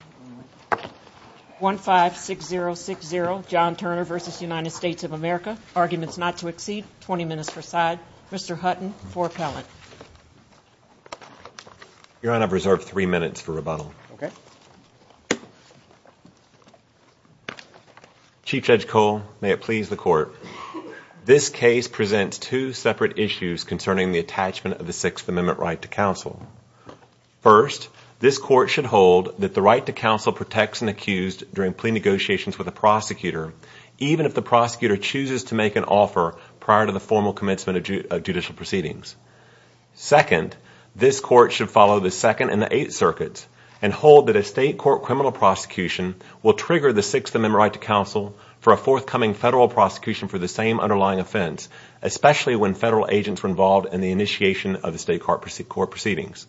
of America, Arguments Not to Exceed, 20 Minutes per Side, Mr. Hutton for appellate. Your Honor, I have reserved three minutes for rebuttal. Okay. Chief Judge Cole, may it please the Court, this case presents two separate issues concerning the attachment of the Sixth Amendment right to counsel. First, this Court should hold that the right to counsel protects an accused during plea negotiations with a prosecutor, even if the prosecutor chooses to make an offer prior to the formal commencement of judicial proceedings. Second, this Court should follow the Second and the Eighth Circuits and hold that a state court criminal prosecution will trigger the Sixth Amendment right to counsel for a forthcoming federal prosecution for the same underlying offense, especially when federal agents were involved in the initiation of the state court proceedings.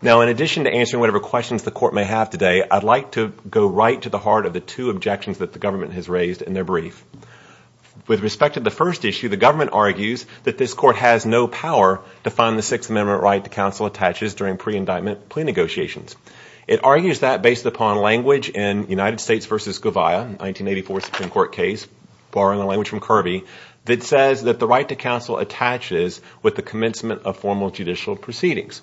Now, in addition to answering whatever questions the Court may have today, I'd like to go right to the heart of the two objections that the government has raised in their brief. With respect to the first issue, the government argues that this Court has no power to find the Sixth Amendment right to counsel attaches during pre-indictment plea negotiations. It argues that based upon language in United States v. Govia, 1984 Supreme Court case, borrowing the language from Kirby, that says that the right to counsel attaches with the commencement of formal judicial proceedings.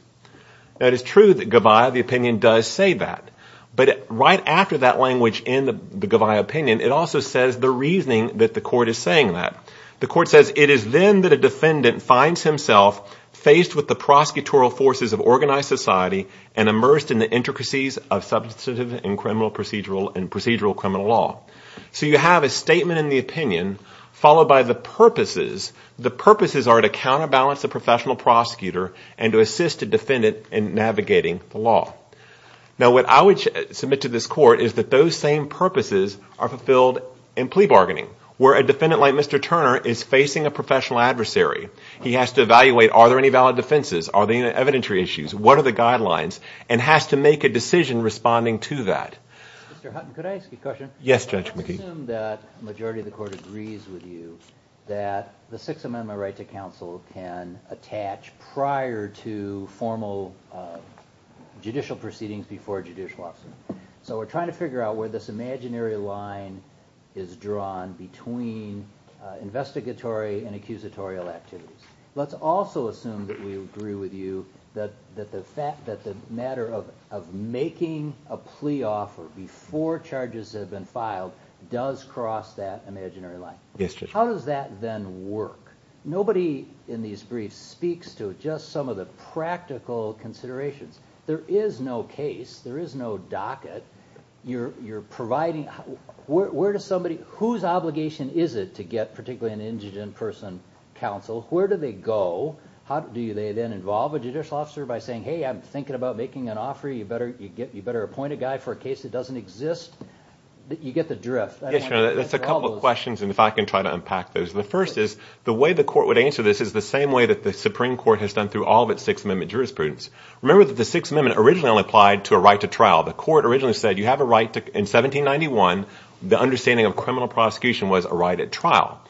Now, it is true that Govia, the opinion, does say that. But right after that language in the Govia opinion, it also says the reasoning that the Court is saying that. The Court says, it is then that a defendant finds himself faced with the prosecutorial forces of organized society and immersed in the intricacies of substantive and procedural criminal law. So you have a statement in the opinion followed by the purposes. The purposes are to counterbalance the professional prosecutor and to assist the defendant in navigating the law. Now, what I would submit to this Court is that those same purposes are fulfilled in plea bargaining, where a defendant like Mr. Turner is facing a professional adversary. He has to evaluate are there any valid defenses, are there any evidentiary issues, what are the guidelines, and has to make a decision responding to that. Mr. Hutton, could I ask you a question? Yes, Judge McGee. Let's assume that the majority of the Court agrees with you that the Sixth Amendment right to counsel can attach prior to formal judicial proceedings before a judicial officer. So we're trying to figure out where this imaginary line is drawn between investigatory and accusatorial activities. Let's also assume that we agree with you that the matter of making a plea offer before charges have been filed does cross that imaginary line. Yes, Judge. How does that then work? Nobody in these briefs speaks to just some of the practical considerations. There is no case, there is no docket. Whose obligation is it to get particularly an indigent person counsel? Where do they go? Do they then involve a judicial officer by saying, hey, I'm thinking about making an offer, you better appoint a guy for a case that doesn't exist? You get the drift. That's a couple of questions, and if I can try to unpack those. The first is the way the Court would answer this is the same way that the Supreme Court has done through all of its Sixth Amendment jurisprudence. Remember that the Sixth Amendment originally only applied to a right to trial. The Court originally said you have a right to, in 1791, the understanding of criminal prosecution was a right at trial.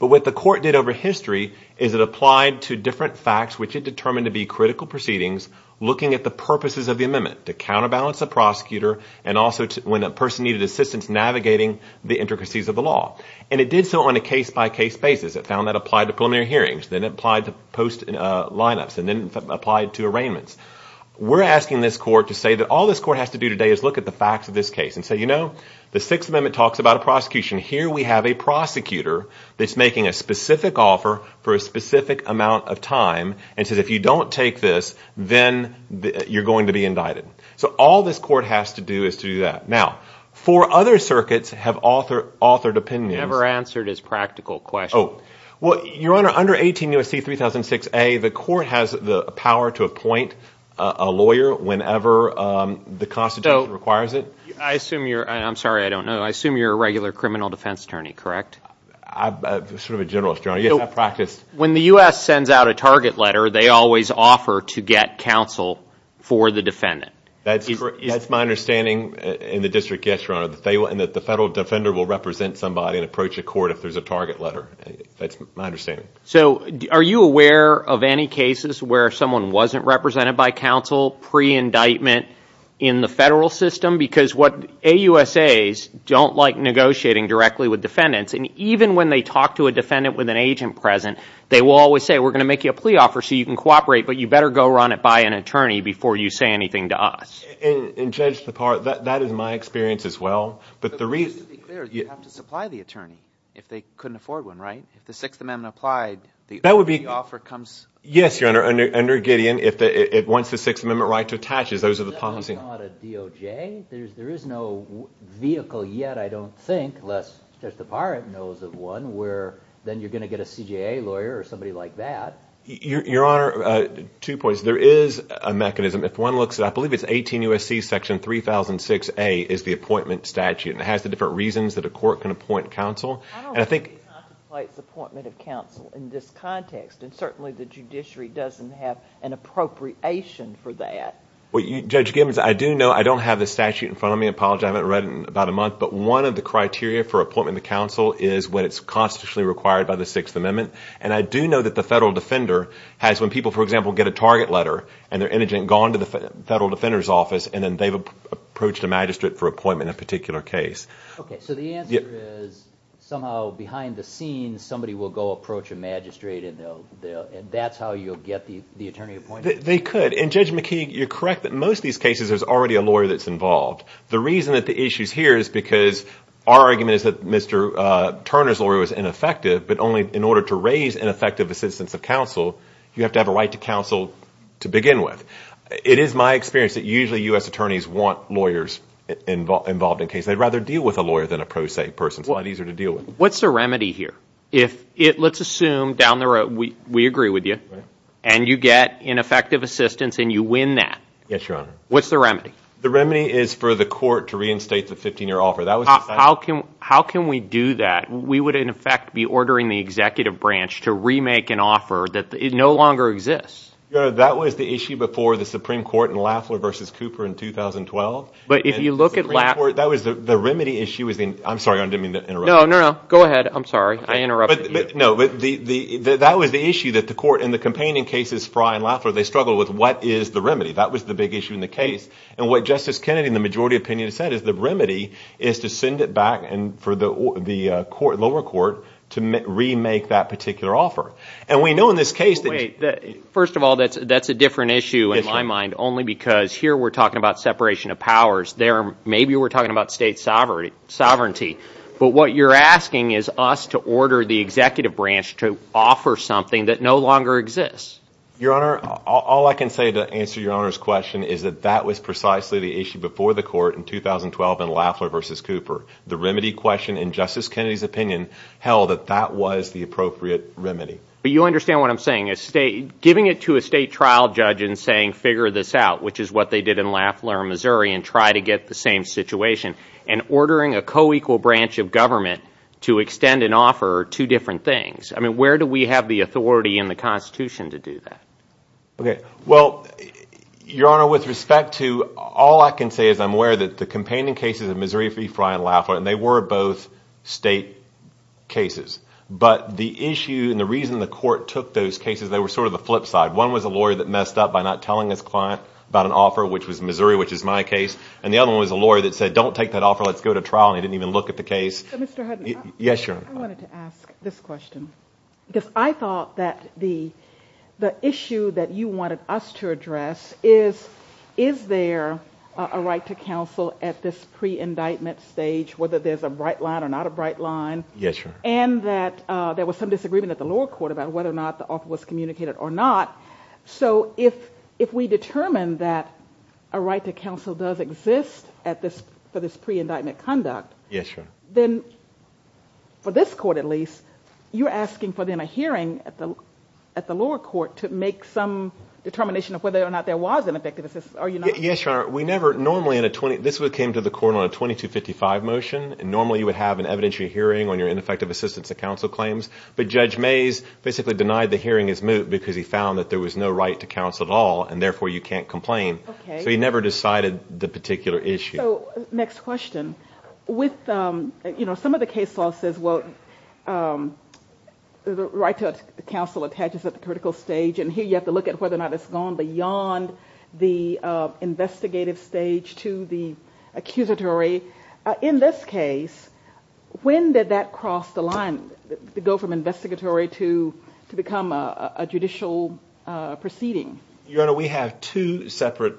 But what the Court did over history is it applied to different facts, which it determined to be critical proceedings, looking at the purposes of the amendment, to counterbalance the prosecutor and also when a person needed assistance navigating the intricacies of the law. And it did so on a case-by-case basis. It found that applied to preliminary hearings, then it applied to post lineups, and then applied to arraignments. We're asking this Court to say that all this Court has to do today is look at the facts of this case and say, you know, the Sixth Amendment talks about a prosecution. Here we have a prosecutor that's making a specific offer for a specific amount of time and says if you don't take this, then you're going to be indicted. So all this Court has to do is to do that. Now, four other circuits have authored opinions. Never answered his practical question. Your Honor, under 18 U.S.C. 3006a, the Court has the power to appoint a lawyer whenever the Constitution requires it. I'm sorry, I don't know. I assume you're a regular criminal defense attorney, correct? I'm sort of a generalist, Your Honor. Yes, I practice. When the U.S. sends out a target letter, they always offer to get counsel for the defendant. That's my understanding in the district, yes, Your Honor, and that the federal defender will represent somebody and approach a court if there's a target letter. That's my understanding. So are you aware of any cases where someone wasn't represented by counsel pre-indictment in the federal system? Because what AUSAs don't like negotiating directly with defendants, and even when they talk to a defendant with an agent present, they will always say, we're going to make you a plea offer so you can cooperate, but you better go run it by an attorney before you say anything to us. In Judge Tapar, that is my experience as well. But just to be clear, you have to supply the attorney if they couldn't afford one, right? If the Sixth Amendment applied, the offer comes? Yes, Your Honor. Under Gideon, if it wants the Sixth Amendment right to attaches, those are the policies. That's not a DOJ. There is no vehicle yet, I don't think, unless Judge Tapar knows of one, where then you're going to get a CJA lawyer or somebody like that. Your Honor, two points. There is a mechanism. If one looks at, I believe it's 18 U.S.C. section 3006A is the appointment statute, and it has the different reasons that a court can appoint counsel. I don't think it contemplates appointment of counsel in this context, and certainly the judiciary doesn't have an appropriation for that. Judge Gibbons, I do know, I don't have the statute in front of me. I apologize. I haven't read it in about a month. But one of the criteria for appointment of counsel is when it's constitutionally required by the Sixth Amendment. And I do know that the federal defender has, when people, for example, get a target letter and they're indigent, gone to the federal defender's office, and then they've approached a magistrate for appointment in a particular case. Okay. So the answer is somehow behind the scenes somebody will go approach a magistrate and that's how you'll get the attorney appointed? They could. And, Judge McKee, you're correct that in most of these cases there's already a lawyer that's involved. The reason that the issue is here is because our argument is that Mr. Turner's lawyer was ineffective, but only in order to raise ineffective assistance of counsel, you have to have a right to counsel to begin with. It is my experience that usually U.S. attorneys want lawyers involved in cases. They'd rather deal with a lawyer than a pro se person. It's a lot easier to deal with. What's the remedy here? Let's assume down the road we agree with you, and you get ineffective assistance and you win that. Yes, Your Honor. What's the remedy? The remedy is for the court to reinstate the 15-year offer. How can we do that? We would, in effect, be ordering the executive branch to remake an offer that no longer exists. Your Honor, that was the issue before the Supreme Court in Lafleur v. Cooper in 2012. But if you look at Lafleur. That was the remedy issue. I'm sorry. I didn't mean to interrupt you. No, no, no. Go ahead. I'm sorry. I interrupted you. No, that was the issue that the court in the campaigning cases for Ryan Lafleur, they struggled with what is the remedy. That was the big issue in the case. And what Justice Kennedy in the majority opinion said is the remedy is to send it back for the lower court to remake that particular offer. And we know in this case that... Wait. First of all, that's a different issue in my mind only because here we're talking about separation of powers. There maybe we're talking about state sovereignty. But what you're asking is us to order the executive branch to offer something that no longer exists. Your Honor, all I can say to answer Your Honor's question is that that was precisely the issue before the court in 2012 in Lafleur v. Cooper. The remedy question, in Justice Kennedy's opinion, held that that was the appropriate remedy. But you understand what I'm saying. Giving it to a state trial judge and saying, figure this out, which is what they did in Lafleur, Missouri, and try to get the same situation, and ordering a co-equal branch of government to extend an offer are two different things. I mean, where do we have the authority in the Constitution to do that? Okay. Well, Your Honor, with respect to all I can say is I'm aware that the campaigning cases in Missouri v. Frye and Lafleur, and they were both state cases. But the issue and the reason the court took those cases, they were sort of the flip side. One was a lawyer that messed up by not telling his client about an offer, which was Missouri, which is my case. And the other one was a lawyer that said, don't take that offer, let's go to trial, and he didn't even look at the case. So, Mr. Hutton, I wanted to ask this question, because I thought that the issue that you wanted us to address is, is there a right to counsel at this pre-indictment stage, whether there's a bright line or not a bright line, and that there was some disagreement at the lower court about whether or not the offer was communicated or not. So if we determine that a right to counsel does exist for this pre-indictment conduct, then, for this court at least, you're asking for then a hearing at the lower court to make some determination of whether or not there was an effective assistance. Are you not? Yes, Your Honor. This came to the court on a 2255 motion, and normally you would have an evidentiary hearing on your ineffective assistance to counsel claims. But Judge Mays basically denied the hearing his moot because he found that there was no right to counsel at all, and therefore you can't complain. So he never decided the particular issue. So, next question. Some of the case law says, well, the right to counsel attaches at the critical stage, and here you have to look at whether or not it's gone beyond the investigative stage to the accusatory. In this case, when did that cross the line, go from investigatory to become a judicial proceeding? Your Honor, we have two separate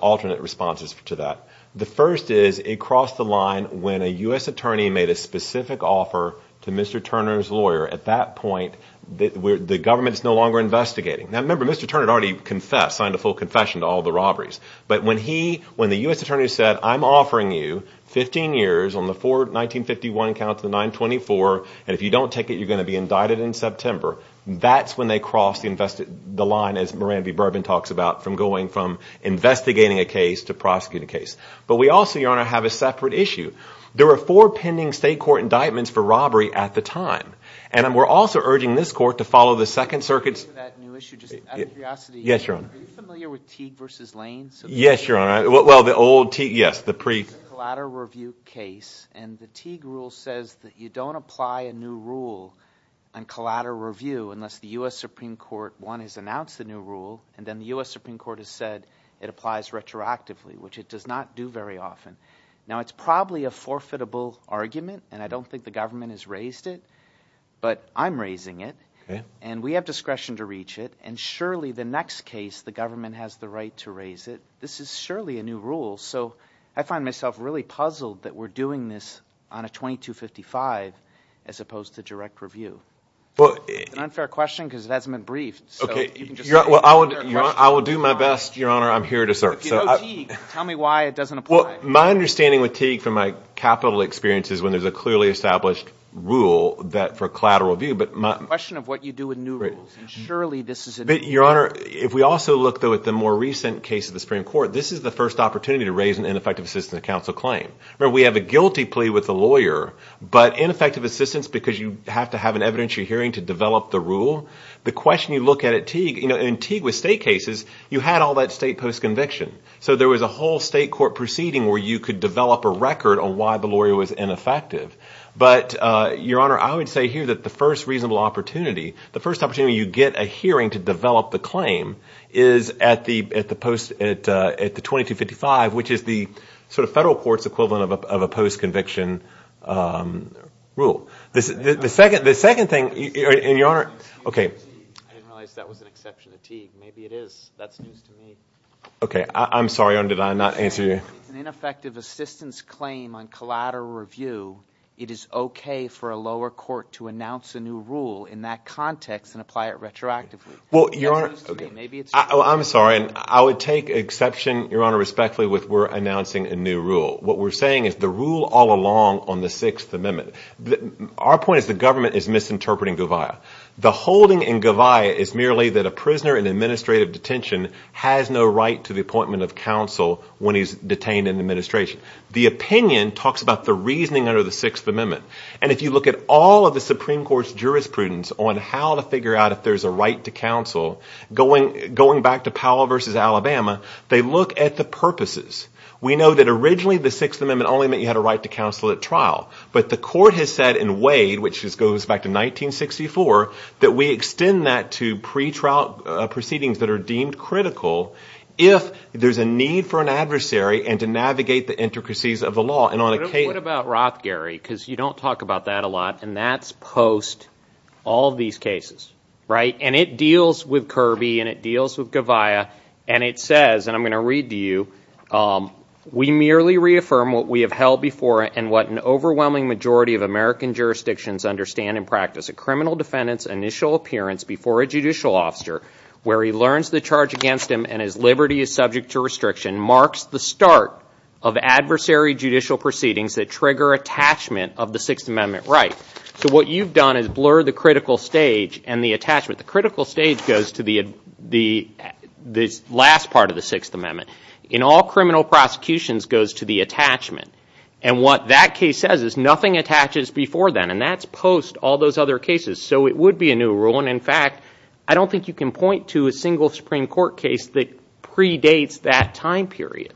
alternate responses to that. The first is it crossed the line when a U.S. attorney made a specific offer to Mr. Turner's lawyer. At that point, the government is no longer investigating. Now, remember, Mr. Turner had already confessed, signed a full confession to all the robberies. But when he, when the U.S. attorney said, I'm offering you 15 years on the forward 1951 account to the 924, and if you don't take it, you're going to be indicted in September, that's when they crossed the line, as Moran V. Burbin talks about, from going from investigating a case to prosecuting a case. But we also, Your Honor, have a separate issue. There were four pending state court indictments for robbery at the time, and we're also urging this court to follow the Second Circuit's... ...new issue, just out of curiosity. Yes, Your Honor. Are you familiar with Teague v. Lane? Yes, Your Honor. Well, the old Teague, yes, the pre... Collater Review case, and the Teague rule says that you don't apply a new rule on Collater Review unless the U.S. Supreme Court, one, has announced a new rule, and then the U.S. Supreme Court has said it applies retroactively, which it does not do very often. Now, it's probably a forfeitable argument, and I don't think the government has raised it, but I'm raising it. Okay. And we have discretion to reach it, and surely the next case, the government has the right to raise it. This is surely a new rule, so I find myself really puzzled that we're doing this on a 2255 as opposed to direct review. It's an unfair question because it hasn't been briefed. Okay. You can just say it's an unfair question. I will do my best, Your Honor. I'm here to serve. But if you know Teague, tell me why it doesn't apply. Well, my understanding with Teague from my capital experience is when there's a clearly established rule for Collater Review, but my... It's a question of what you do with new rules, and surely this is a new rule. But, Your Honor, if we also look, though, at the more recent case of the Supreme Court, this is the first opportunity to raise an ineffective assistance to counsel claim. Remember, we have a guilty plea with a lawyer, but ineffective assistance because you have to have an evidentiary hearing to develop the rule. The question you look at at Teague, in Teague with state cases, you had all that state post-conviction. So there was a whole state court proceeding where you could develop a record on why the lawyer was ineffective. But, Your Honor, I would say here that the first reasonable opportunity, the first opportunity you get a hearing to develop the claim, is at the 2255, which is the sort of federal court's equivalent of a post-conviction rule. The second thing, Your Honor... I didn't realize that was an exception to Teague. Maybe it is. That's news to me. Okay. I'm sorry, Your Honor, did I not answer you? If it's an ineffective assistance claim on Collater Review, it is okay for a lower court to announce a new rule in that context and apply it retroactively. That's news to me. Maybe it's true. I'm sorry. I would take exception, Your Honor, respectfully with we're announcing a new rule. What we're saying is the rule all along on the Sixth Amendment. Our point is the government is misinterpreting Govaya. The holding in Govaya is merely that a prisoner in administrative detention has no right to the appointment of counsel when he's detained in administration. The opinion talks about the reasoning under the Sixth Amendment. And if you look at all of the Supreme Court's jurisprudence on how to figure out if there's a right to counsel, going back to Powell v. Alabama, they look at the purposes. We know that originally the Sixth Amendment only meant you had a right to counsel at trial. But the court has said in Wade, which goes back to 1964, that we extend that to pretrial proceedings that are deemed critical if there's a need for an adversary and to navigate the intricacies of the law. What about Roth, Gary? Because you don't talk about that a lot. And that's post all of these cases, right? And it deals with Kirby and it deals with Govaya. And it says, and I'm going to read to you, we merely reaffirm what we have held before and what an overwhelming majority of American jurisdictions understand and practice. A criminal defendant's initial appearance before a judicial officer where he learns the charge against him and his liberty is subject to restriction marks the start of adversary judicial proceedings that trigger attachment of the Sixth Amendment right. So what you've done is blurred the critical stage and the attachment. The critical stage goes to the last part of the Sixth Amendment. And all criminal prosecutions goes to the attachment. And what that case says is nothing attaches before then. And that's post all those other cases. So it would be a new rule. And, in fact, I don't think you can point to a single Supreme Court case that predates that time period.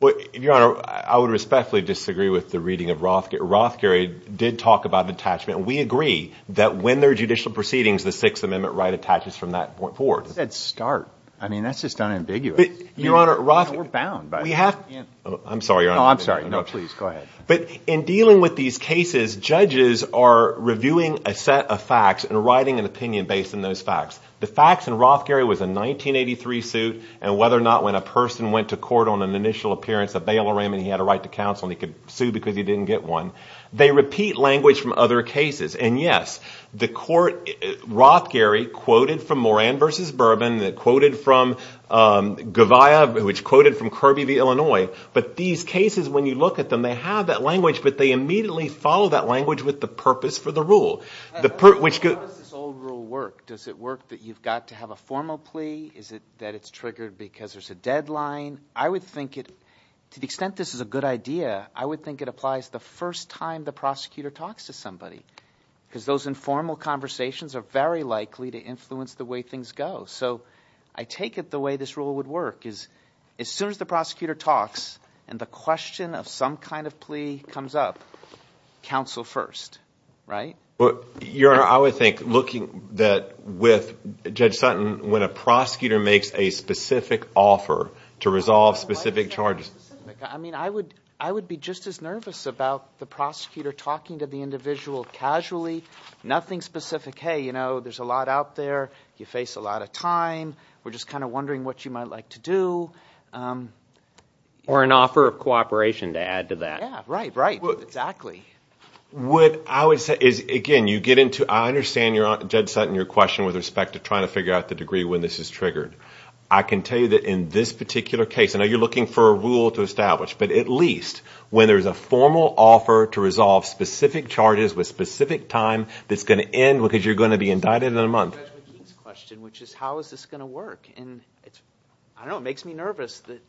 Well, Your Honor, I would respectfully disagree with the reading of Roth. Roth, Gary, did talk about attachment. We agree that when there are judicial proceedings, the Sixth Amendment right attaches from that point forward. I said start. I mean, that's just unambiguous. We're bound. I'm sorry, Your Honor. No, I'm sorry. No, please, go ahead. But in dealing with these cases, judges are reviewing a set of facts and writing an opinion based on those facts. The facts in Roth, Gary, was a 1983 suit, and whether or not when a person went to court on an initial appearance, a bailer ran and he had a right to counsel and he could sue because he didn't get one. They repeat language from other cases. And, yes, the court, Roth, Gary, quoted from Moran v. Bourbon, quoted from Gavia, which quoted from Kirby v. Illinois. But these cases, when you look at them, they have that language, but they immediately follow that language with the purpose for the rule. How does this old rule work? Does it work that you've got to have a formal plea? Is it that it's triggered because there's a deadline? I would think it, to the extent this is a good idea, I would think it applies the first time the prosecutor talks to somebody. Because those informal conversations are very likely to influence the way things go. So I take it the way this rule would work is as soon as the prosecutor talks and the question of some kind of plea comes up, counsel first, right? Your Honor, I would think looking with Judge Sutton, when a prosecutor makes a specific offer to resolve specific charges. I mean, I would be just as nervous about the prosecutor talking to the individual casually. Nothing specific. Hey, you know, there's a lot out there. You face a lot of time. We're just kind of wondering what you might like to do. Or an offer of cooperation, to add to that. Yeah, right, right, exactly. What I would say is, again, you get into it. I understand, Judge Sutton, your question with respect to trying to figure out the degree when this is triggered. I can tell you that in this particular case, I know you're looking for a rule to establish, but at least when there's a formal offer to resolve specific charges with specific time, that's going to end because you're going to be indicted in a month. Judge McKee's question, which is how is this going to work. I don't know, it makes me nervous that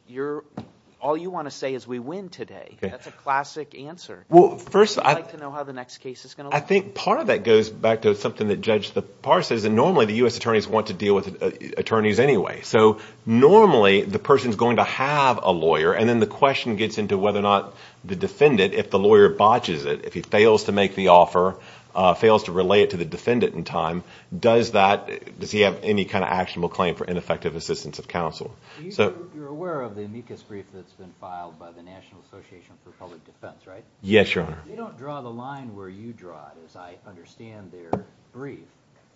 all you want to say is we win today. That's a classic answer. How would you like to know how the next case is going to look? I think part of that goes back to something that Judge Parr said, is that normally the U.S. attorneys want to deal with attorneys anyway. So normally the person's going to have a lawyer, and then the question gets into whether or not the defendant, if the lawyer botches it, if he fails to make the offer, fails to relay it to the defendant in time, does he have any kind of actionable claim for ineffective assistance of counsel? You're aware of the amicus brief that's been filed by the National Association for Public Defense, right? Yes, Your Honor. You don't draw the line where you draw it, as I understand their brief.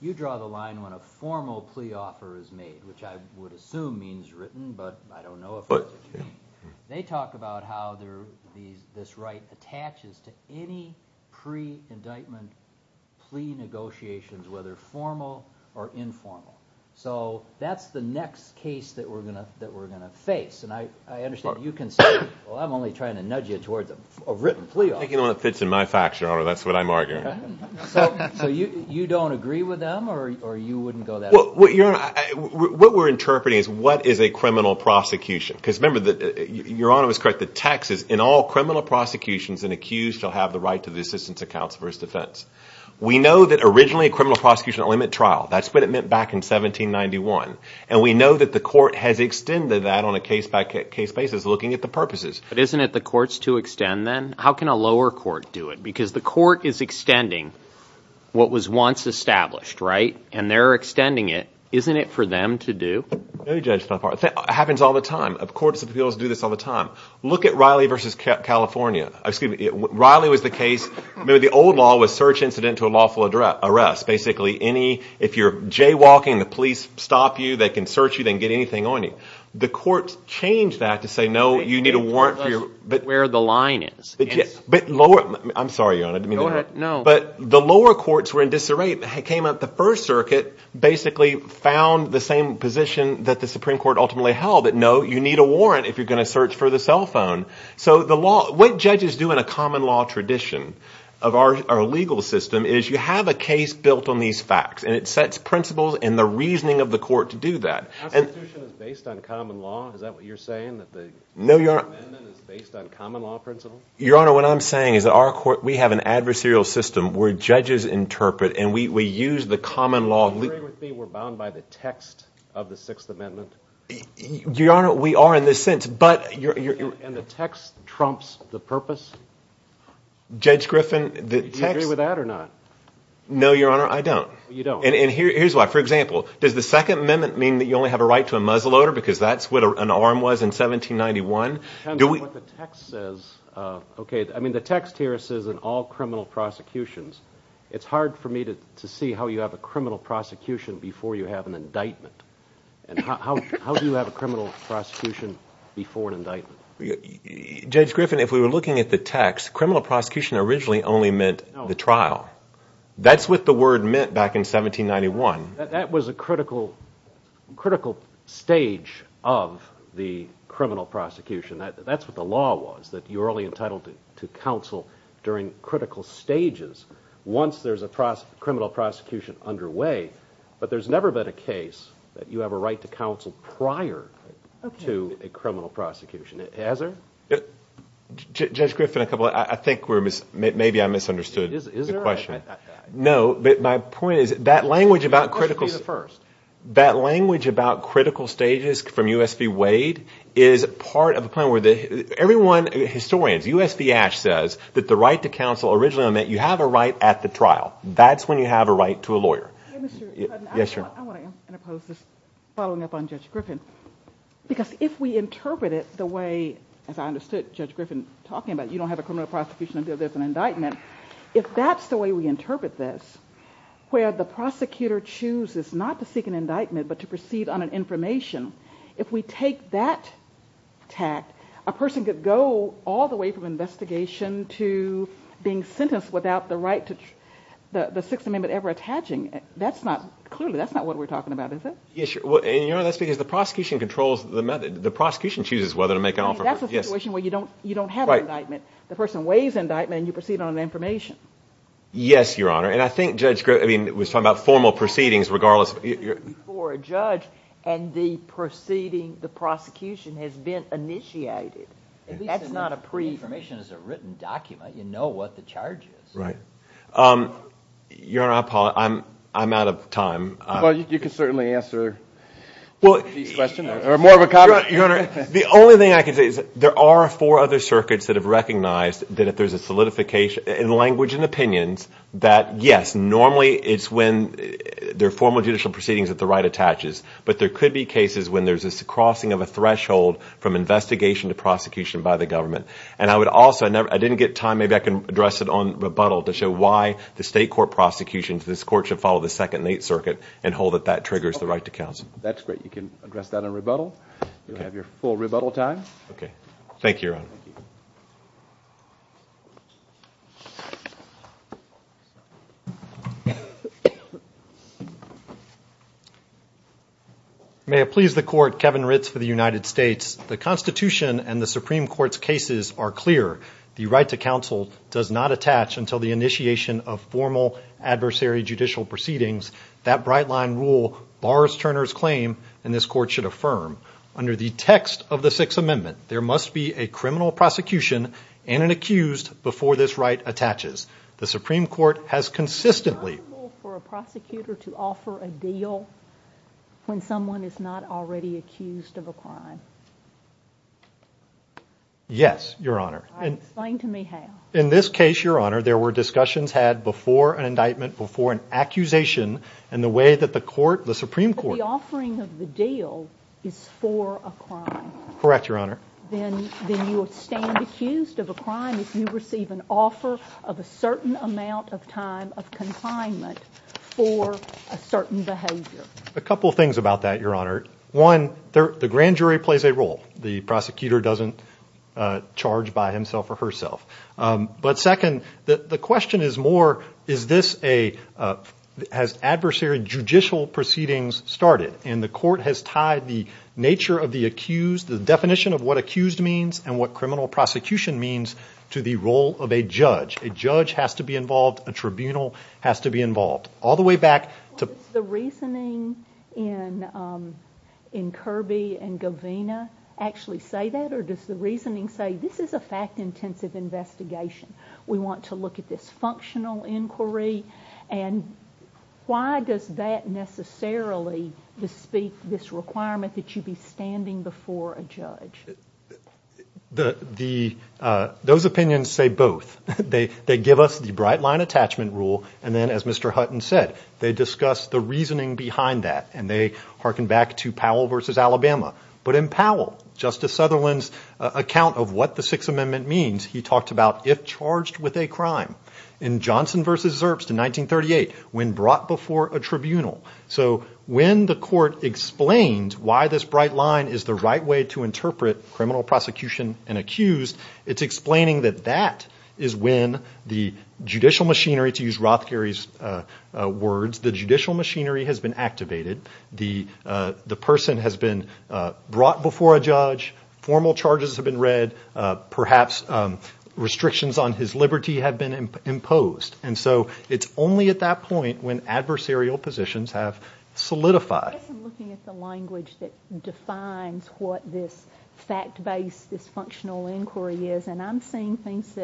You draw the line when a formal plea offer is made, which I would assume means written, but I don't know if that's what you mean. They talk about how this right attaches to any pre-indictment plea negotiations, whether formal or informal. So that's the next case that we're going to face, and I understand you can say, well, I'm only trying to nudge you towards a written plea offer. I'm taking it when it fits in my facts, Your Honor, that's what I'm arguing. So you don't agree with them, or you wouldn't go that far? Well, Your Honor, what we're interpreting is what is a criminal prosecution? Because, remember, Your Honor was correct. The text is, in all criminal prosecutions, an accused shall have the right to the assistance of counsel for his defense. We know that originally a criminal prosecution only met trial. That's what it meant back in 1791, and we know that the court has extended that on a case-by-case basis, looking at the purposes. But isn't it the courts to extend then? How can a lower court do it? Because the court is extending what was once established, right? And they're extending it. Isn't it for them to do? It happens all the time. Courts of appeals do this all the time. Look at Riley v. California. Riley was the case. Remember, the old law was search incident to a lawful arrest. Basically, if you're jaywalking, the police stop you. They can search you. They can get anything on you. The courts changed that to say, no, you need a warrant. That's where the line is. I'm sorry, Your Honor. Go ahead. No. But the lower courts were in disarray. It came out the First Circuit basically found the same position that the Supreme Court ultimately held, that no, you need a warrant if you're going to search for the cell phone. So what judges do in a common law tradition of our legal system is you have a case built on these facts, and it sets principles and the reasoning of the court to do that. The Constitution is based on common law. Is that what you're saying, that the amendment is based on common law principles? Your Honor, what I'm saying is that our court, we have an adversarial system where judges interpret, and we use the common law. Do you agree with me we're bound by the text of the Sixth Amendment? Your Honor, we are in this sense, but you're— And the text trumps the purpose? Judge Griffin, the text— Do you agree with that or not? No, Your Honor, I don't. You don't. And here's why. For example, does the Second Amendment mean that you only have a right to a muzzleloader because that's what an arm was in 1791? It depends on what the text says. Okay, I mean, the text here says, in all criminal prosecutions, it's hard for me to see how you have a criminal prosecution before you have an indictment. How do you have a criminal prosecution before an indictment? Judge Griffin, if we were looking at the text, criminal prosecution originally only meant the trial. That's what the word meant back in 1791. That was a critical stage of the criminal prosecution. That's what the law was, that you were only entitled to counsel during critical stages once there's a criminal prosecution underway. But there's never been a case that you have a right to counsel prior to a criminal prosecution. Has there? Judge Griffin, I think maybe I misunderstood the question. Is there? No, but my point is that language about critical stages from U.S.P. Wade is part of a point where everyone, historians, U.S.P. Ash says that the right to counsel originally meant you have a right at the trial. That's when you have a right to a lawyer. Yes, sir. I want to impose this following up on Judge Griffin because if we interpret it the way, as I understood Judge Griffin talking about, you don't have a criminal prosecution until there's an indictment, if that's the way we interpret this, where the prosecutor chooses not to seek an indictment but to proceed on an information, if we take that tact, a person could go all the way from investigation to being sentenced without the right, the Sixth Amendment ever attaching. Clearly that's not what we're talking about, is it? Yes, sure. That's because the prosecution controls the method. The prosecution chooses whether to make an offer. That's a situation where you don't have an indictment. The person waives indictment and you proceed on an information. Yes, Your Honor, and I think Judge Griffin was talking about formal proceedings regardless. Before a judge and the proceeding, the prosecution has been initiated. That's not a pre-information. Information is a written document. You know what the charge is. Right. Your Honor, I'm out of time. Well, you can certainly answer these questions or more of a copy. Your Honor, the only thing I can say is there are four other circuits that have recognized that if there's a solidification in language and opinions that, yes, normally it's when there are formal judicial proceedings that the right attaches, but there could be cases when there's a crossing of a threshold from investigation to prosecution by the government. And I would also, I didn't get time, maybe I can address it on rebuttal to show why the state court prosecution, this court should follow the Second and Eighth Circuit and hold that that triggers the right to counsel. That's great. You can address that on rebuttal. You'll have your full rebuttal time. Okay. Thank you, Your Honor. May it please the Court, Kevin Ritz for the United States. The Constitution and the Supreme Court's cases are clear. The right to counsel does not attach until the initiation of formal adversary judicial proceedings. That bright line rule bars Turner's claim, and this court should affirm. Under the text of the Sixth Amendment, there must be a criminal prosecution and an accused before this right attaches. The Supreme Court has consistently... Is it possible for a prosecutor to offer a deal when someone is not already accused of a crime? Yes, Your Honor. Explain to me how. In this case, Your Honor, there were discussions had before an indictment, before an accusation, and the way that the court, the Supreme Court... The offering of the deal is for a crime. Correct, Your Honor. Then you stand accused of a crime if you receive an offer of a certain amount of time of confinement for a certain behavior. A couple of things about that, Your Honor. One, the grand jury plays a role. The prosecutor doesn't charge by himself or herself. Second, the question is more, has adversary judicial proceedings started? The court has tied the nature of the accused, the definition of what accused means and what criminal prosecution means to the role of a judge. A judge has to be involved. A tribunal has to be involved. All the way back to... Does the reasoning in Kirby and Govina actually say that, or does the reasoning say this is a fact-intensive investigation? We want to look at this functional inquiry, and why does that necessarily bespeak this requirement that you be standing before a judge? Those opinions say both. They give us the bright-line attachment rule, and then, as Mr. Hutton said, they discuss the reasoning behind that, and they hearken back to Powell v. Alabama. But in Powell, Justice Sutherland's account of what the Sixth Amendment means, he talked about if charged with a crime. In Johnson v. Zerbst in 1938, when brought before a tribunal. So when the court explained why this bright line is the right way to interpret criminal prosecution and accused, it's explaining that that is when the judicial machinery, to use Rothkerry's words, the judicial machinery has been activated. The person has been brought before a judge. Formal charges have been read. Perhaps restrictions on his liberty have been imposed. And so it's only at that point when adversarial positions have solidified. I guess I'm looking at the language that defines what this fact-based, this functional inquiry is, and I'm seeing things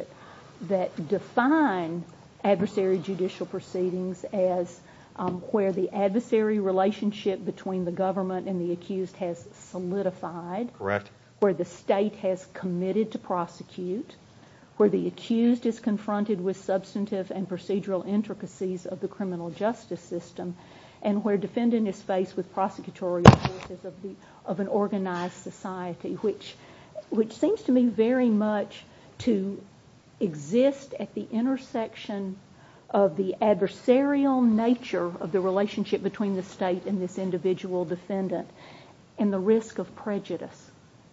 that define adversary judicial proceedings as where the adversary relationship between the government and the accused has solidified, where the state has committed to prosecute, where the accused is confronted with substantive and procedural intricacies of the criminal justice system, and where defendant is faced with prosecutorial purposes of an organized society, which seems to me very much to exist at the intersection of the adversarial nature of the relationship between the state and this individual defendant and the risk of prejudice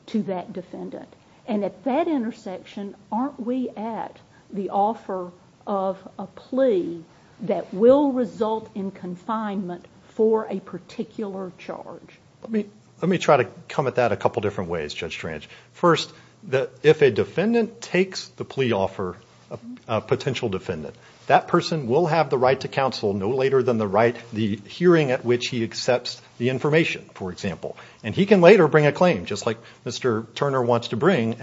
to that defendant. And at that intersection, aren't we at the offer of a plea that will result in confinement for a particular charge? Let me try to come at that a couple different ways, Judge Tranch. First, if a defendant takes the plea offer, a potential defendant, that person will have the right to counsel no later than the right, the hearing at which he accepts the information, for example. And he can later bring a claim, just like Mr. Turner wants to bring, But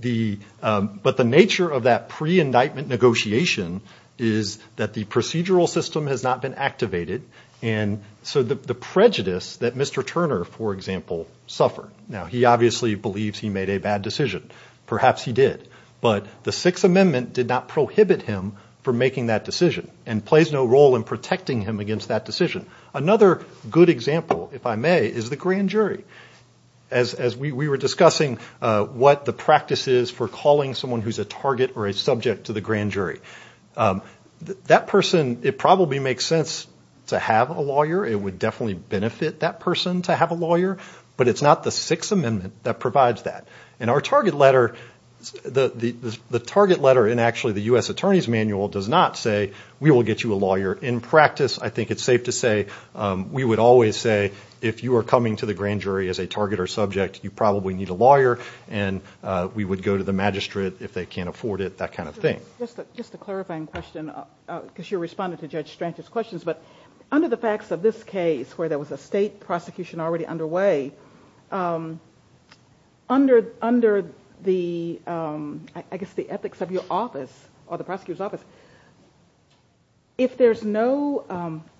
the nature of that pre-indictment negotiation is that the procedural system has not been activated, and so the prejudice that Mr. Turner, for example, suffered. Now, he obviously believes he made a bad decision. Perhaps he did. But the Sixth Amendment did not prohibit him from making that decision and plays no role in protecting him against that decision. Another good example, if I may, is the grand jury. As we were discussing what the practice is for calling someone who's a target or a subject to the grand jury. That person, it probably makes sense to have a lawyer. It would definitely benefit that person to have a lawyer. But it's not the Sixth Amendment that provides that. And our target letter, the target letter in actually the U.S. Attorney's Manual does not say, We will get you a lawyer in practice. I think it's safe to say we would always say, If you are coming to the grand jury as a target or subject, you probably need a lawyer. And we would go to the magistrate if they can't afford it. That kind of thing. Just a clarifying question, because you responded to Judge Strachan's questions. But under the facts of this case, where there was a state prosecution already underway, under the ethics of your office, or the prosecutor's office, if there's an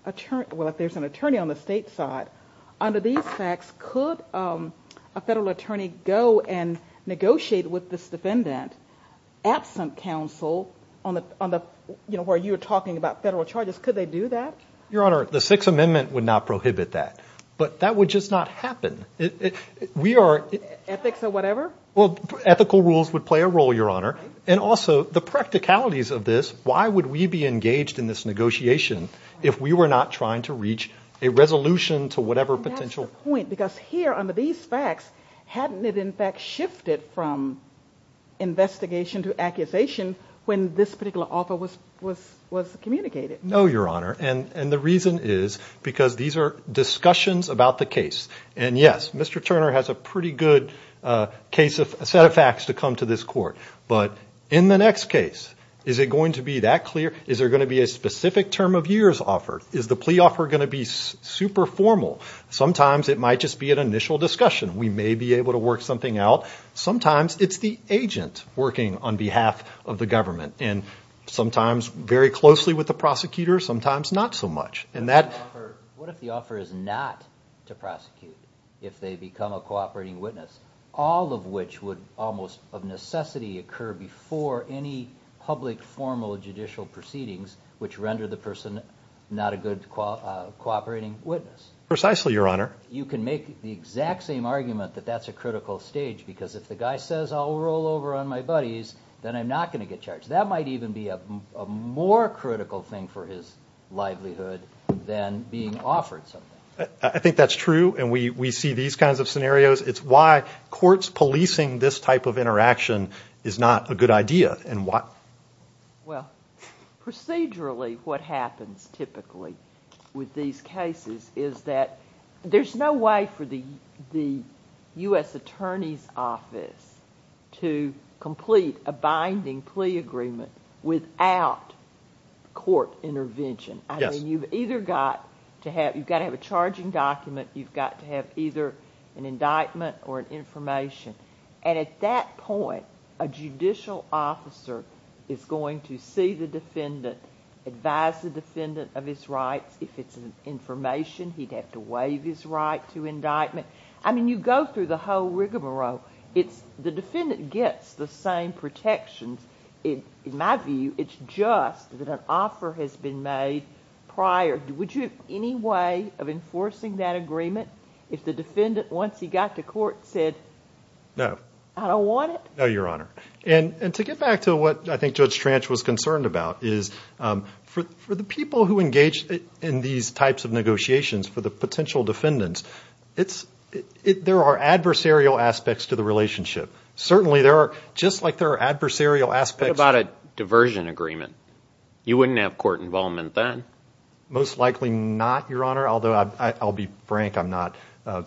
attorney on the state side, under these facts, could a federal attorney go and negotiate with this defendant, absent counsel, where you were talking about federal charges, could they do that? Your Honor, the Sixth Amendment would not prohibit that. But that would just not happen. Ethics or whatever? Well, ethical rules would play a role, Your Honor. And also, the practicalities of this, why would we be engaged in this negotiation if we were not trying to reach a resolution to whatever potential? That's the point, because here, under these facts, hadn't it in fact shifted from investigation to accusation when this particular offer was communicated? No, Your Honor. And the reason is because these are discussions about the case. And yes, Mr. Turner has a pretty good set of facts to come to this court. But in the next case, is it going to be that clear? Is there going to be a specific term of years offer? Is the plea offer going to be super formal? Sometimes it might just be an initial discussion. We may be able to work something out. Sometimes it's the agent working on behalf of the government. And sometimes very closely with the prosecutor. Sometimes not so much. What if the offer is not to prosecute if they become a cooperating witness, all of which would almost of necessity occur before any public formal judicial proceedings which render the person not a good cooperating witness? Precisely, Your Honor. You can make the exact same argument that that's a critical stage, because if the guy says, I'll roll over on my buddies, then I'm not going to get charged. That might even be a more critical thing for his livelihood than being offered something. I think that's true, and we see these kinds of scenarios. It's why courts policing this type of interaction is not a good idea. Well, procedurally what happens typically with these cases is that there's no way for the U.S. Attorney's Office to complete a binding plea agreement without court intervention. You've got to have a charging document. You've got to have either an indictment or an information. And at that point, a judicial officer is going to see the defendant, advise the defendant of his rights. If it's information, he'd have to waive his right to indictment. I mean, you go through the whole rigmarole. The defendant gets the same protections. In my view, it's just that an offer has been made prior. Would you have any way of enforcing that agreement if the defendant, once he got to court, said, I don't want it? No, Your Honor. And to get back to what I think Judge Tranch was concerned about is for the people who engage in these types of negotiations, for the potential defendants, there are adversarial aspects to the relationship. Certainly there are, just like there are adversarial aspects. What about a diversion agreement? You wouldn't have court involvement then. Most likely not, Your Honor, although I'll be frank, I'm not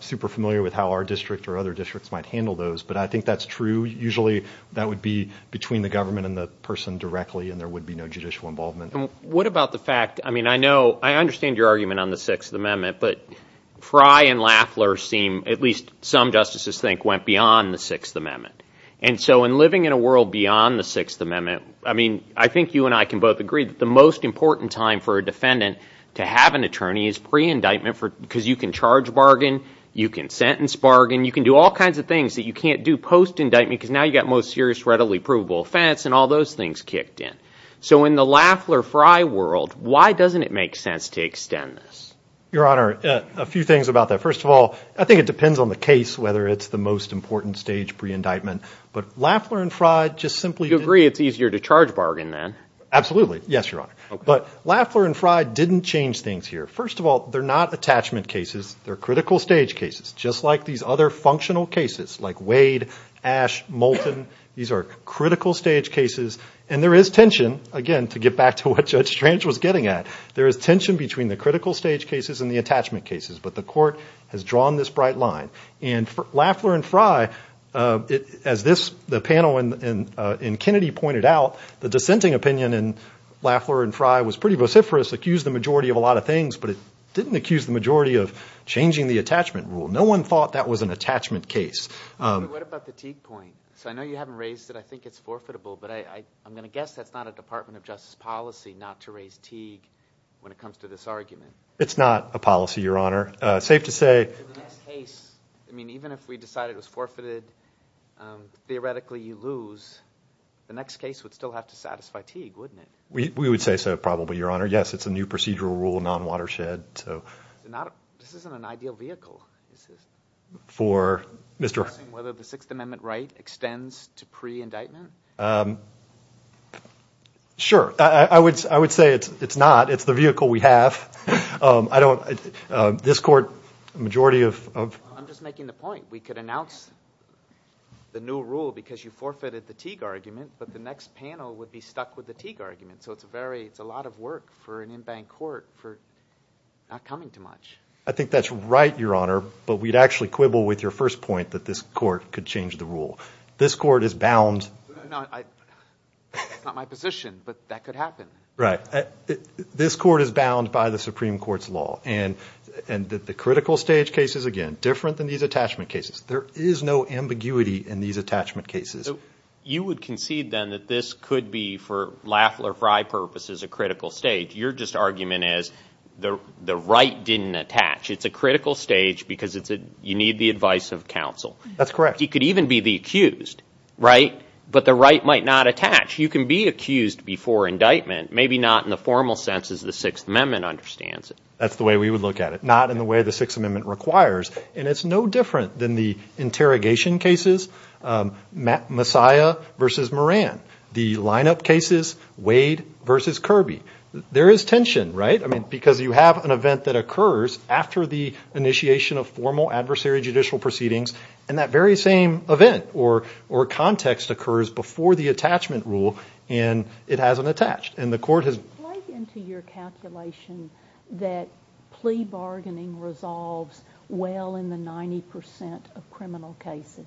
super familiar with how our district or other districts might handle those, but I think that's true. Usually that would be between the government and the person directly, and there would be no judicial involvement. What about the fact, I mean, I know, I understand your argument on the Sixth Amendment, but Frey and Lafleur seem, at least some justices think, went beyond the Sixth Amendment. And so in living in a world beyond the Sixth Amendment, I mean, I think you and I can both agree that the most important time for a defendant to have an attorney is pre-indictment because you can charge bargain, you can sentence bargain, you can do all kinds of things that you can't do post-indictment because now you've got most serious readily provable offense and all those things kicked in. So in the Lafleur-Frey world, why doesn't it make sense to extend this? Your Honor, a few things about that. First of all, I think it depends on the case whether it's the most important stage pre-indictment, but Lafleur and Frey just simply didn't. You agree it's easier to charge bargain then? Absolutely. Yes, Your Honor. But Lafleur and Frey didn't change things here. First of all, they're not attachment cases. They're critical stage cases, just like these other functional cases like Wade, Ash, Moulton. These are critical stage cases, and there is tension, again, to get back to what Judge Strange was getting at. There is tension between the critical stage cases and the attachment cases, but the court has drawn this bright line. And Lafleur and Frey, as the panel in Kennedy pointed out, the dissenting opinion in Lafleur and Frey was pretty vociferous, accused the majority of a lot of things, but it didn't accuse the majority of changing the attachment rule. No one thought that was an attachment case. What about the Teague point? So I know you haven't raised it. I think it's forfeitable, but I'm going to guess that's not a Department of Justice policy not to raise Teague when it comes to this argument. It's not a policy, Your Honor. It's safe to say. I mean, even if we decided it was forfeited, theoretically you lose. The next case would still have to satisfy Teague, wouldn't it? We would say so probably, Your Honor. Yes, it's a new procedural rule, non-watershed. This isn't an ideal vehicle. For Mr. Asking whether the Sixth Amendment right extends to pre-indictment? Sure. I would say it's not. It's the vehicle we have. I don't – this court, the majority of – I'm just making the point. We could announce the new rule because you forfeited the Teague argument, but the next panel would be stuck with the Teague argument, so it's a lot of work for an in-bank court for not coming to much. I think that's right, Your Honor, but we'd actually quibble with your first point that this court could change the rule. This court is bound. It's not my position, but that could happen. Right. This court is bound by the Supreme Court's law, and the critical stage case is, again, different than these attachment cases. There is no ambiguity in these attachment cases. You would concede, then, that this could be, for Lafleur Frye purposes, a critical stage. Your just argument is the right didn't attach. It's a critical stage because you need the advice of counsel. That's correct. You could even be the accused, right, but the right might not attach. You can be accused before indictment, maybe not in the formal sense as the Sixth Amendment understands it. That's the way we would look at it, not in the way the Sixth Amendment requires, and it's no different than the interrogation cases, Messiah v. Moran, the lineup cases, Wade v. Kirby. There is tension, right, because you have an event that occurs after the initiation of formal adversary judicial proceedings, and that very same event or context occurs before the attachment rule, and it hasn't attached. And the court has – Does it play into your calculation that plea bargaining resolves well in the 90% of criminal cases?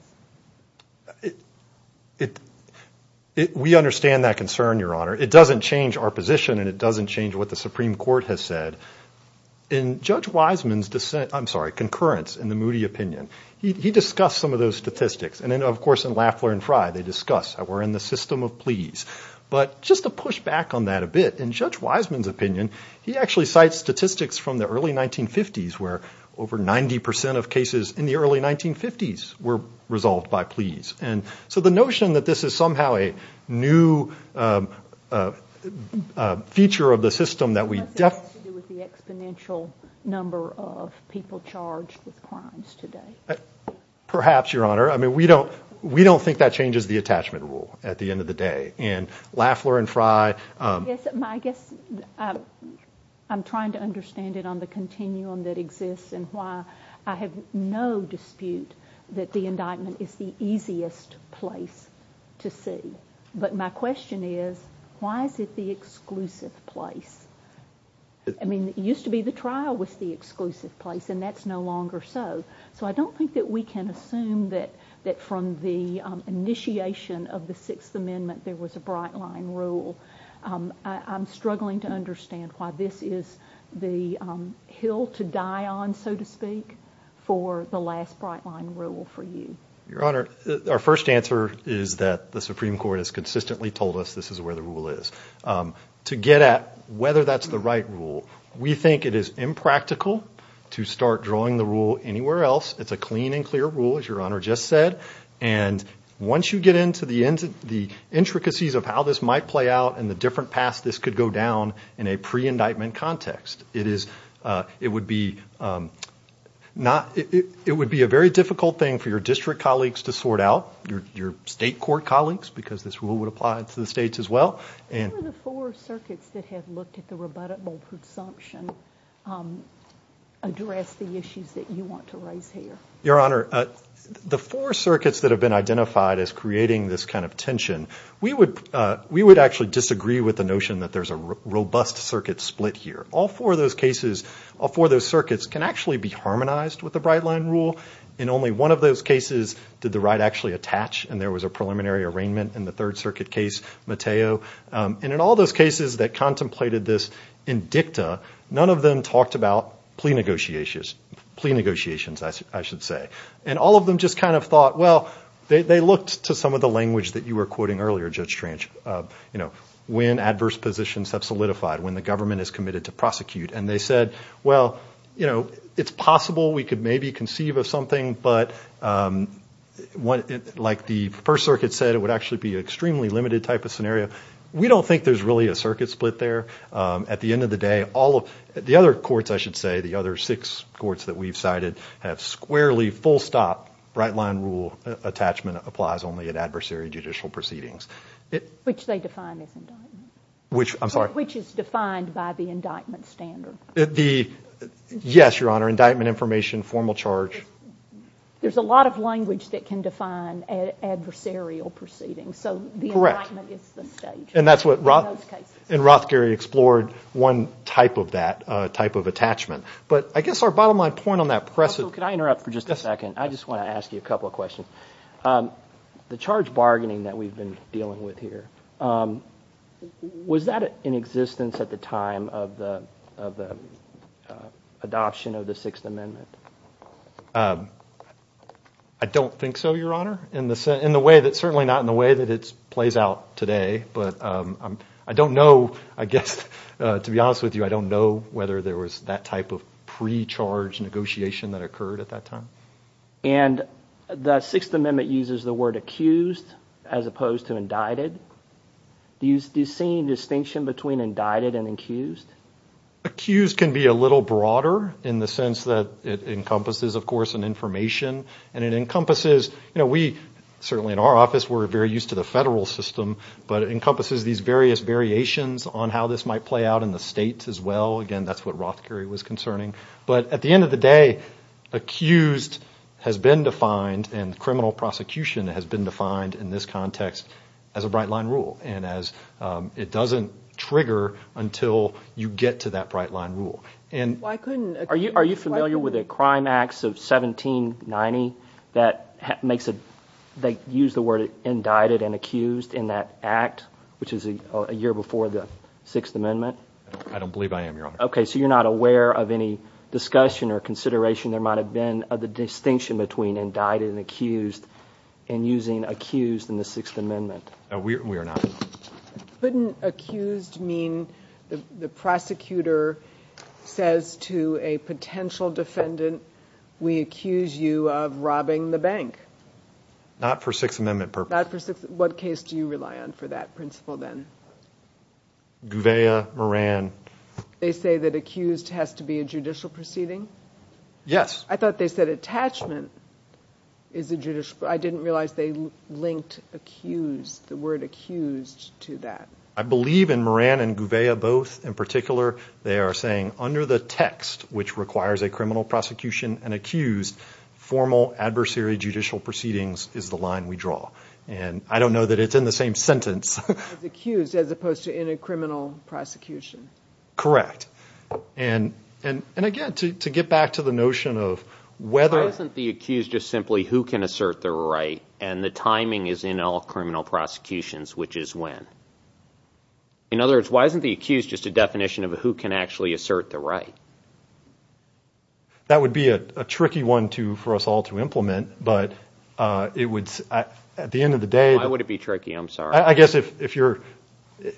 We understand that concern, Your Honor. It doesn't change our position, and it doesn't change what the Supreme Court has said. In Judge Wiseman's – I'm sorry, concurrence in the Moody opinion, he discussed some of those statistics. And then, of course, in Lafler v. Fry, they discuss how we're in the system of pleas. But just to push back on that a bit, in Judge Wiseman's opinion, he actually cites statistics from the early 1950s where over 90% of cases in the early 1950s were resolved by pleas. And so the notion that this is somehow a new feature of the system that we – It has to do with the exponential number of people charged with crimes today. Perhaps, Your Honor. I mean, we don't think that changes the attachment rule at the end of the day. And Lafler and Fry – I guess I'm trying to understand it on the continuum that exists and why I have no dispute that the indictment is the easiest place to see. But my question is, why is it the exclusive place? I mean, it used to be the trial was the exclusive place, and that's no longer so. So I don't think that we can assume that from the initiation of the Sixth Amendment there was a bright-line rule. I'm struggling to understand why this is the hill to die on, so to speak, for the last bright-line rule for you. Your Honor, our first answer is that the Supreme Court has consistently told us this is where the rule is. To get at whether that's the right rule, we think it is impractical to start drawing the rule anywhere else. It's a clean and clear rule, as Your Honor just said. And once you get into the intricacies of how this might play out and the different paths this could go down in a pre-indictment context, it would be a very difficult thing for your district colleagues to sort out, your state court colleagues, because this rule would apply to the states as well. How do the four circuits that have looked at the rebuttable presumption address the issues that you want to raise here? Your Honor, the four circuits that have been identified as creating this kind of tension, we would actually disagree with the notion that there's a robust circuit split here. All four of those circuits can actually be harmonized with the bright-line rule. In only one of those cases did the right actually attach, and there was a preliminary arraignment in the third circuit case, Mateo. And in all those cases that contemplated this indicta, none of them talked about plea negotiations, I should say. And all of them just kind of thought, well, they looked to some of the language that you were quoting earlier, Judge Tranch. When adverse positions have solidified, when the government is committed to prosecute, and they said, well, you know, it's possible we could maybe conceive of something, but like the first circuit said, it would actually be an extremely limited type of scenario. We don't think there's really a circuit split there. At the end of the day, all of the other courts, I should say, the other six courts that we've cited have squarely, full-stop, bright-line rule attachment applies only at adversary judicial proceedings. Which they define as indictment. I'm sorry? Which is defined by the indictment standard. Yes, Your Honor, indictment information, formal charge. There's a lot of language that can define adversarial proceedings. Correct. So the indictment is the stage in those cases. And that's what Rothgary explored, one type of that, type of attachment. But I guess our bottom-line point on that precedent. So could I interrupt for just a second? I just want to ask you a couple of questions. The charge bargaining that we've been dealing with here, was that in existence at the time of the adoption of the Sixth Amendment? I don't think so, Your Honor, in the way that – certainly not in the way that it plays out today. But I don't know, I guess, to be honest with you, I don't know whether there was that type of pre-charge negotiation that occurred at that time. And the Sixth Amendment uses the word accused as opposed to indicted. Do you see any distinction between indicted and accused? Accused can be a little broader in the sense that it encompasses, of course, an information. And it encompasses – certainly in our office we're very used to the federal system, but it encompasses these various variations on how this might play out in the states as well. Again, that's what Rothgary was concerning. But at the end of the day, accused has been defined and criminal prosecution has been defined in this context as a bright-line rule. And it doesn't trigger until you get to that bright-line rule. Are you familiar with a crime act of 1790 that makes it – they use the word indicted and accused in that act, which is a year before the Sixth Amendment? I don't believe I am, Your Honor. Okay, so you're not aware of any discussion or consideration there might have been of the distinction between indicted and accused and using accused in the Sixth Amendment? We are not. Couldn't accused mean the prosecutor says to a potential defendant, we accuse you of robbing the bank? Not for Sixth Amendment purposes. Not for – what case do you rely on for that principle then? Gouveia, Moran. They say that accused has to be a judicial proceeding? Yes. I thought they said attachment is a judicial – I didn't realize they linked accused, the word accused, to that. I believe in Moran and Gouveia both, in particular, they are saying under the text, which requires a criminal prosecution and accused, formal adversary judicial proceedings is the line we draw. And I don't know that it's in the same sentence. It's accused as opposed to in a criminal prosecution. Correct. And again, to get back to the notion of whether – Why isn't the accused just simply who can assert the right and the timing is in all criminal prosecutions, which is when? In other words, why isn't the accused just a definition of who can actually assert the right? That would be a tricky one for us all to implement, but it would – at the end of the day – Why would it be tricky? I'm sorry. I guess if you're –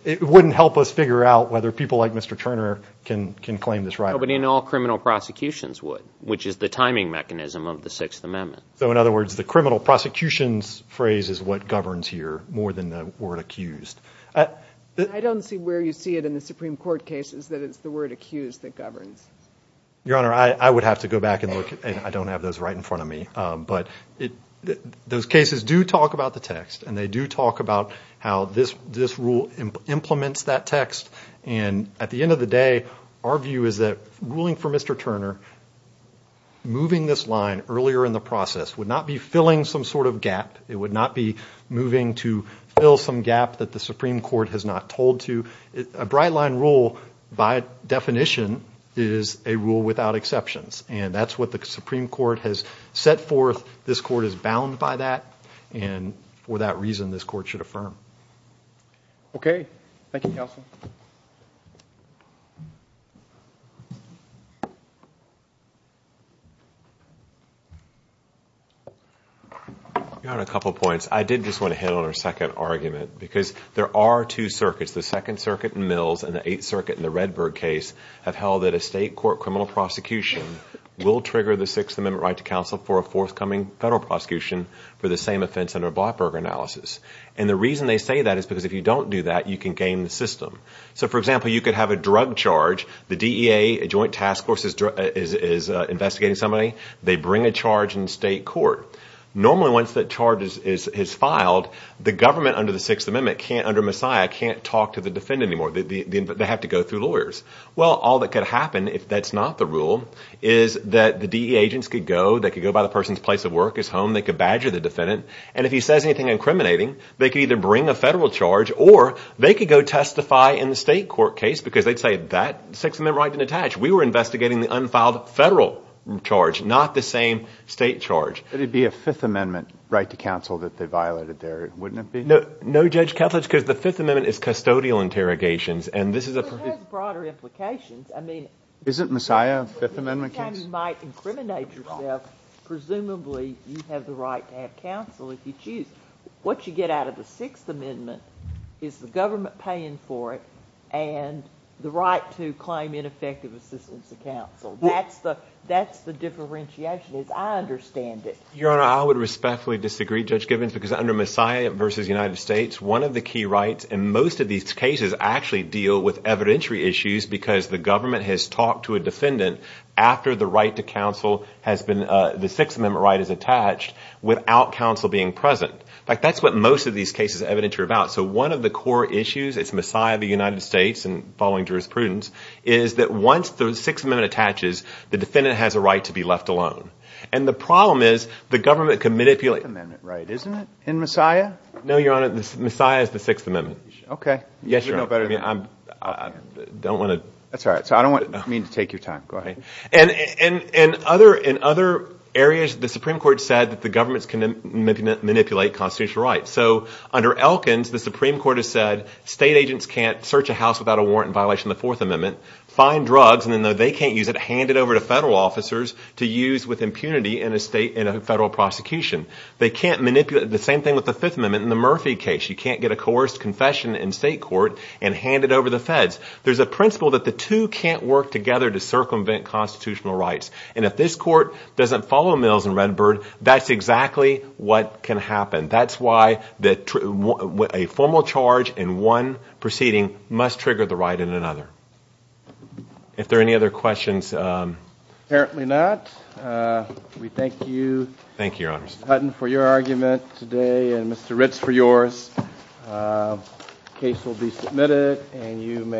it wouldn't help us figure out whether people like Mr. Turner can claim this right. Nobody in all criminal prosecutions would, which is the timing mechanism of the Sixth Amendment. So in other words, the criminal prosecution's phrase is what governs here more than the word accused. I don't see where you see it in the Supreme Court cases that it's the word accused that governs. Your Honor, I would have to go back and look, and I don't have those right in front of me. But those cases do talk about the text, and they do talk about how this rule implements that text. And at the end of the day, our view is that ruling for Mr. Turner, moving this line earlier in the process, would not be filling some sort of gap. It would not be moving to fill some gap that the Supreme Court has not told to. A bright line rule by definition is a rule without exceptions, and that's what the Supreme Court has set forth. This court is bound by that, and for that reason, this court should affirm. Okay. Thank you, counsel. Your Honor, a couple points. I did just want to hit on our second argument because there are two circuits. The Second Circuit in Mills and the Eighth Circuit in the Redberg case have held that a state court criminal prosecution will trigger the Sixth Amendment right to counsel for a forthcoming federal prosecution for the same offense under a Blackburger analysis. And the reason they say that is because if you don't do that, you can game the system. So, for example, you could have a drug charge. The DEA, a joint task force, is investigating somebody. They bring a charge in state court. Normally, once that charge is filed, the government under the Sixth Amendment can't, under Messiah, can't talk to the defendant anymore. They have to go through lawyers. Well, all that could happen if that's not the rule is that the DEA agents could go. They could go by the person's place of work, his home. They could badger the defendant. And if he says anything incriminating, they could either bring a federal charge or they could go testify in the state court case because they'd say that Sixth Amendment right didn't attach. We were investigating the unfiled federal charge, not the same state charge. But it would be a Fifth Amendment right to counsel that they violated there, wouldn't it be? No, Judge Kethledge, because the Fifth Amendment is custodial interrogations, and this is a- Well, it has broader implications. I mean- Isn't Messiah a Fifth Amendment case? Anytime you might incriminate yourself, presumably you have the right to have counsel if you choose. What you get out of the Sixth Amendment is the government paying for it and the right to claim ineffective assistance to counsel. That's the differentiation is I understand it. Your Honor, I would respectfully disagree, Judge Givens, because under Messiah v. United States, one of the key rights in most of these cases actually deal with evidentiary issues because the government has talked to a defendant after the right to counsel has been- the Sixth Amendment right is attached without counsel being present. In fact, that's what most of these cases are evidentiary about. So one of the core issues, it's Messiah v. United States and following jurisprudence, is that once the Sixth Amendment attaches, the defendant has a right to be left alone. And the problem is the government can manipulate- It's a Fifth Amendment right, isn't it, in Messiah? No, Your Honor, Messiah is the Sixth Amendment. Okay. Yes, Your Honor. You know better than me. I don't want to- That's all right. I don't mean to take your time. Go ahead. In other areas, the Supreme Court said that the government can manipulate constitutional rights. So under Elkins, the Supreme Court has said state agents can't search a house without a warrant in violation of the Fourth Amendment, find drugs, and then though they can't use it, hand it over to federal officers to use with impunity in a federal prosecution. They can't manipulate- the same thing with the Fifth Amendment in the Murphy case. You can't get a coerced confession in state court and hand it over to the feds. There's a principle that the two can't work together to circumvent constitutional rights. And if this court doesn't follow Mills and Redbird, that's exactly what can happen. That's why a formal charge in one proceeding must trigger the right in another. If there are any other questions- Apparently not. We thank you- Thank you, Your Honor. Mr. Hutton for your argument today and Mr. Ritz for yours. The case will be submitted and you may-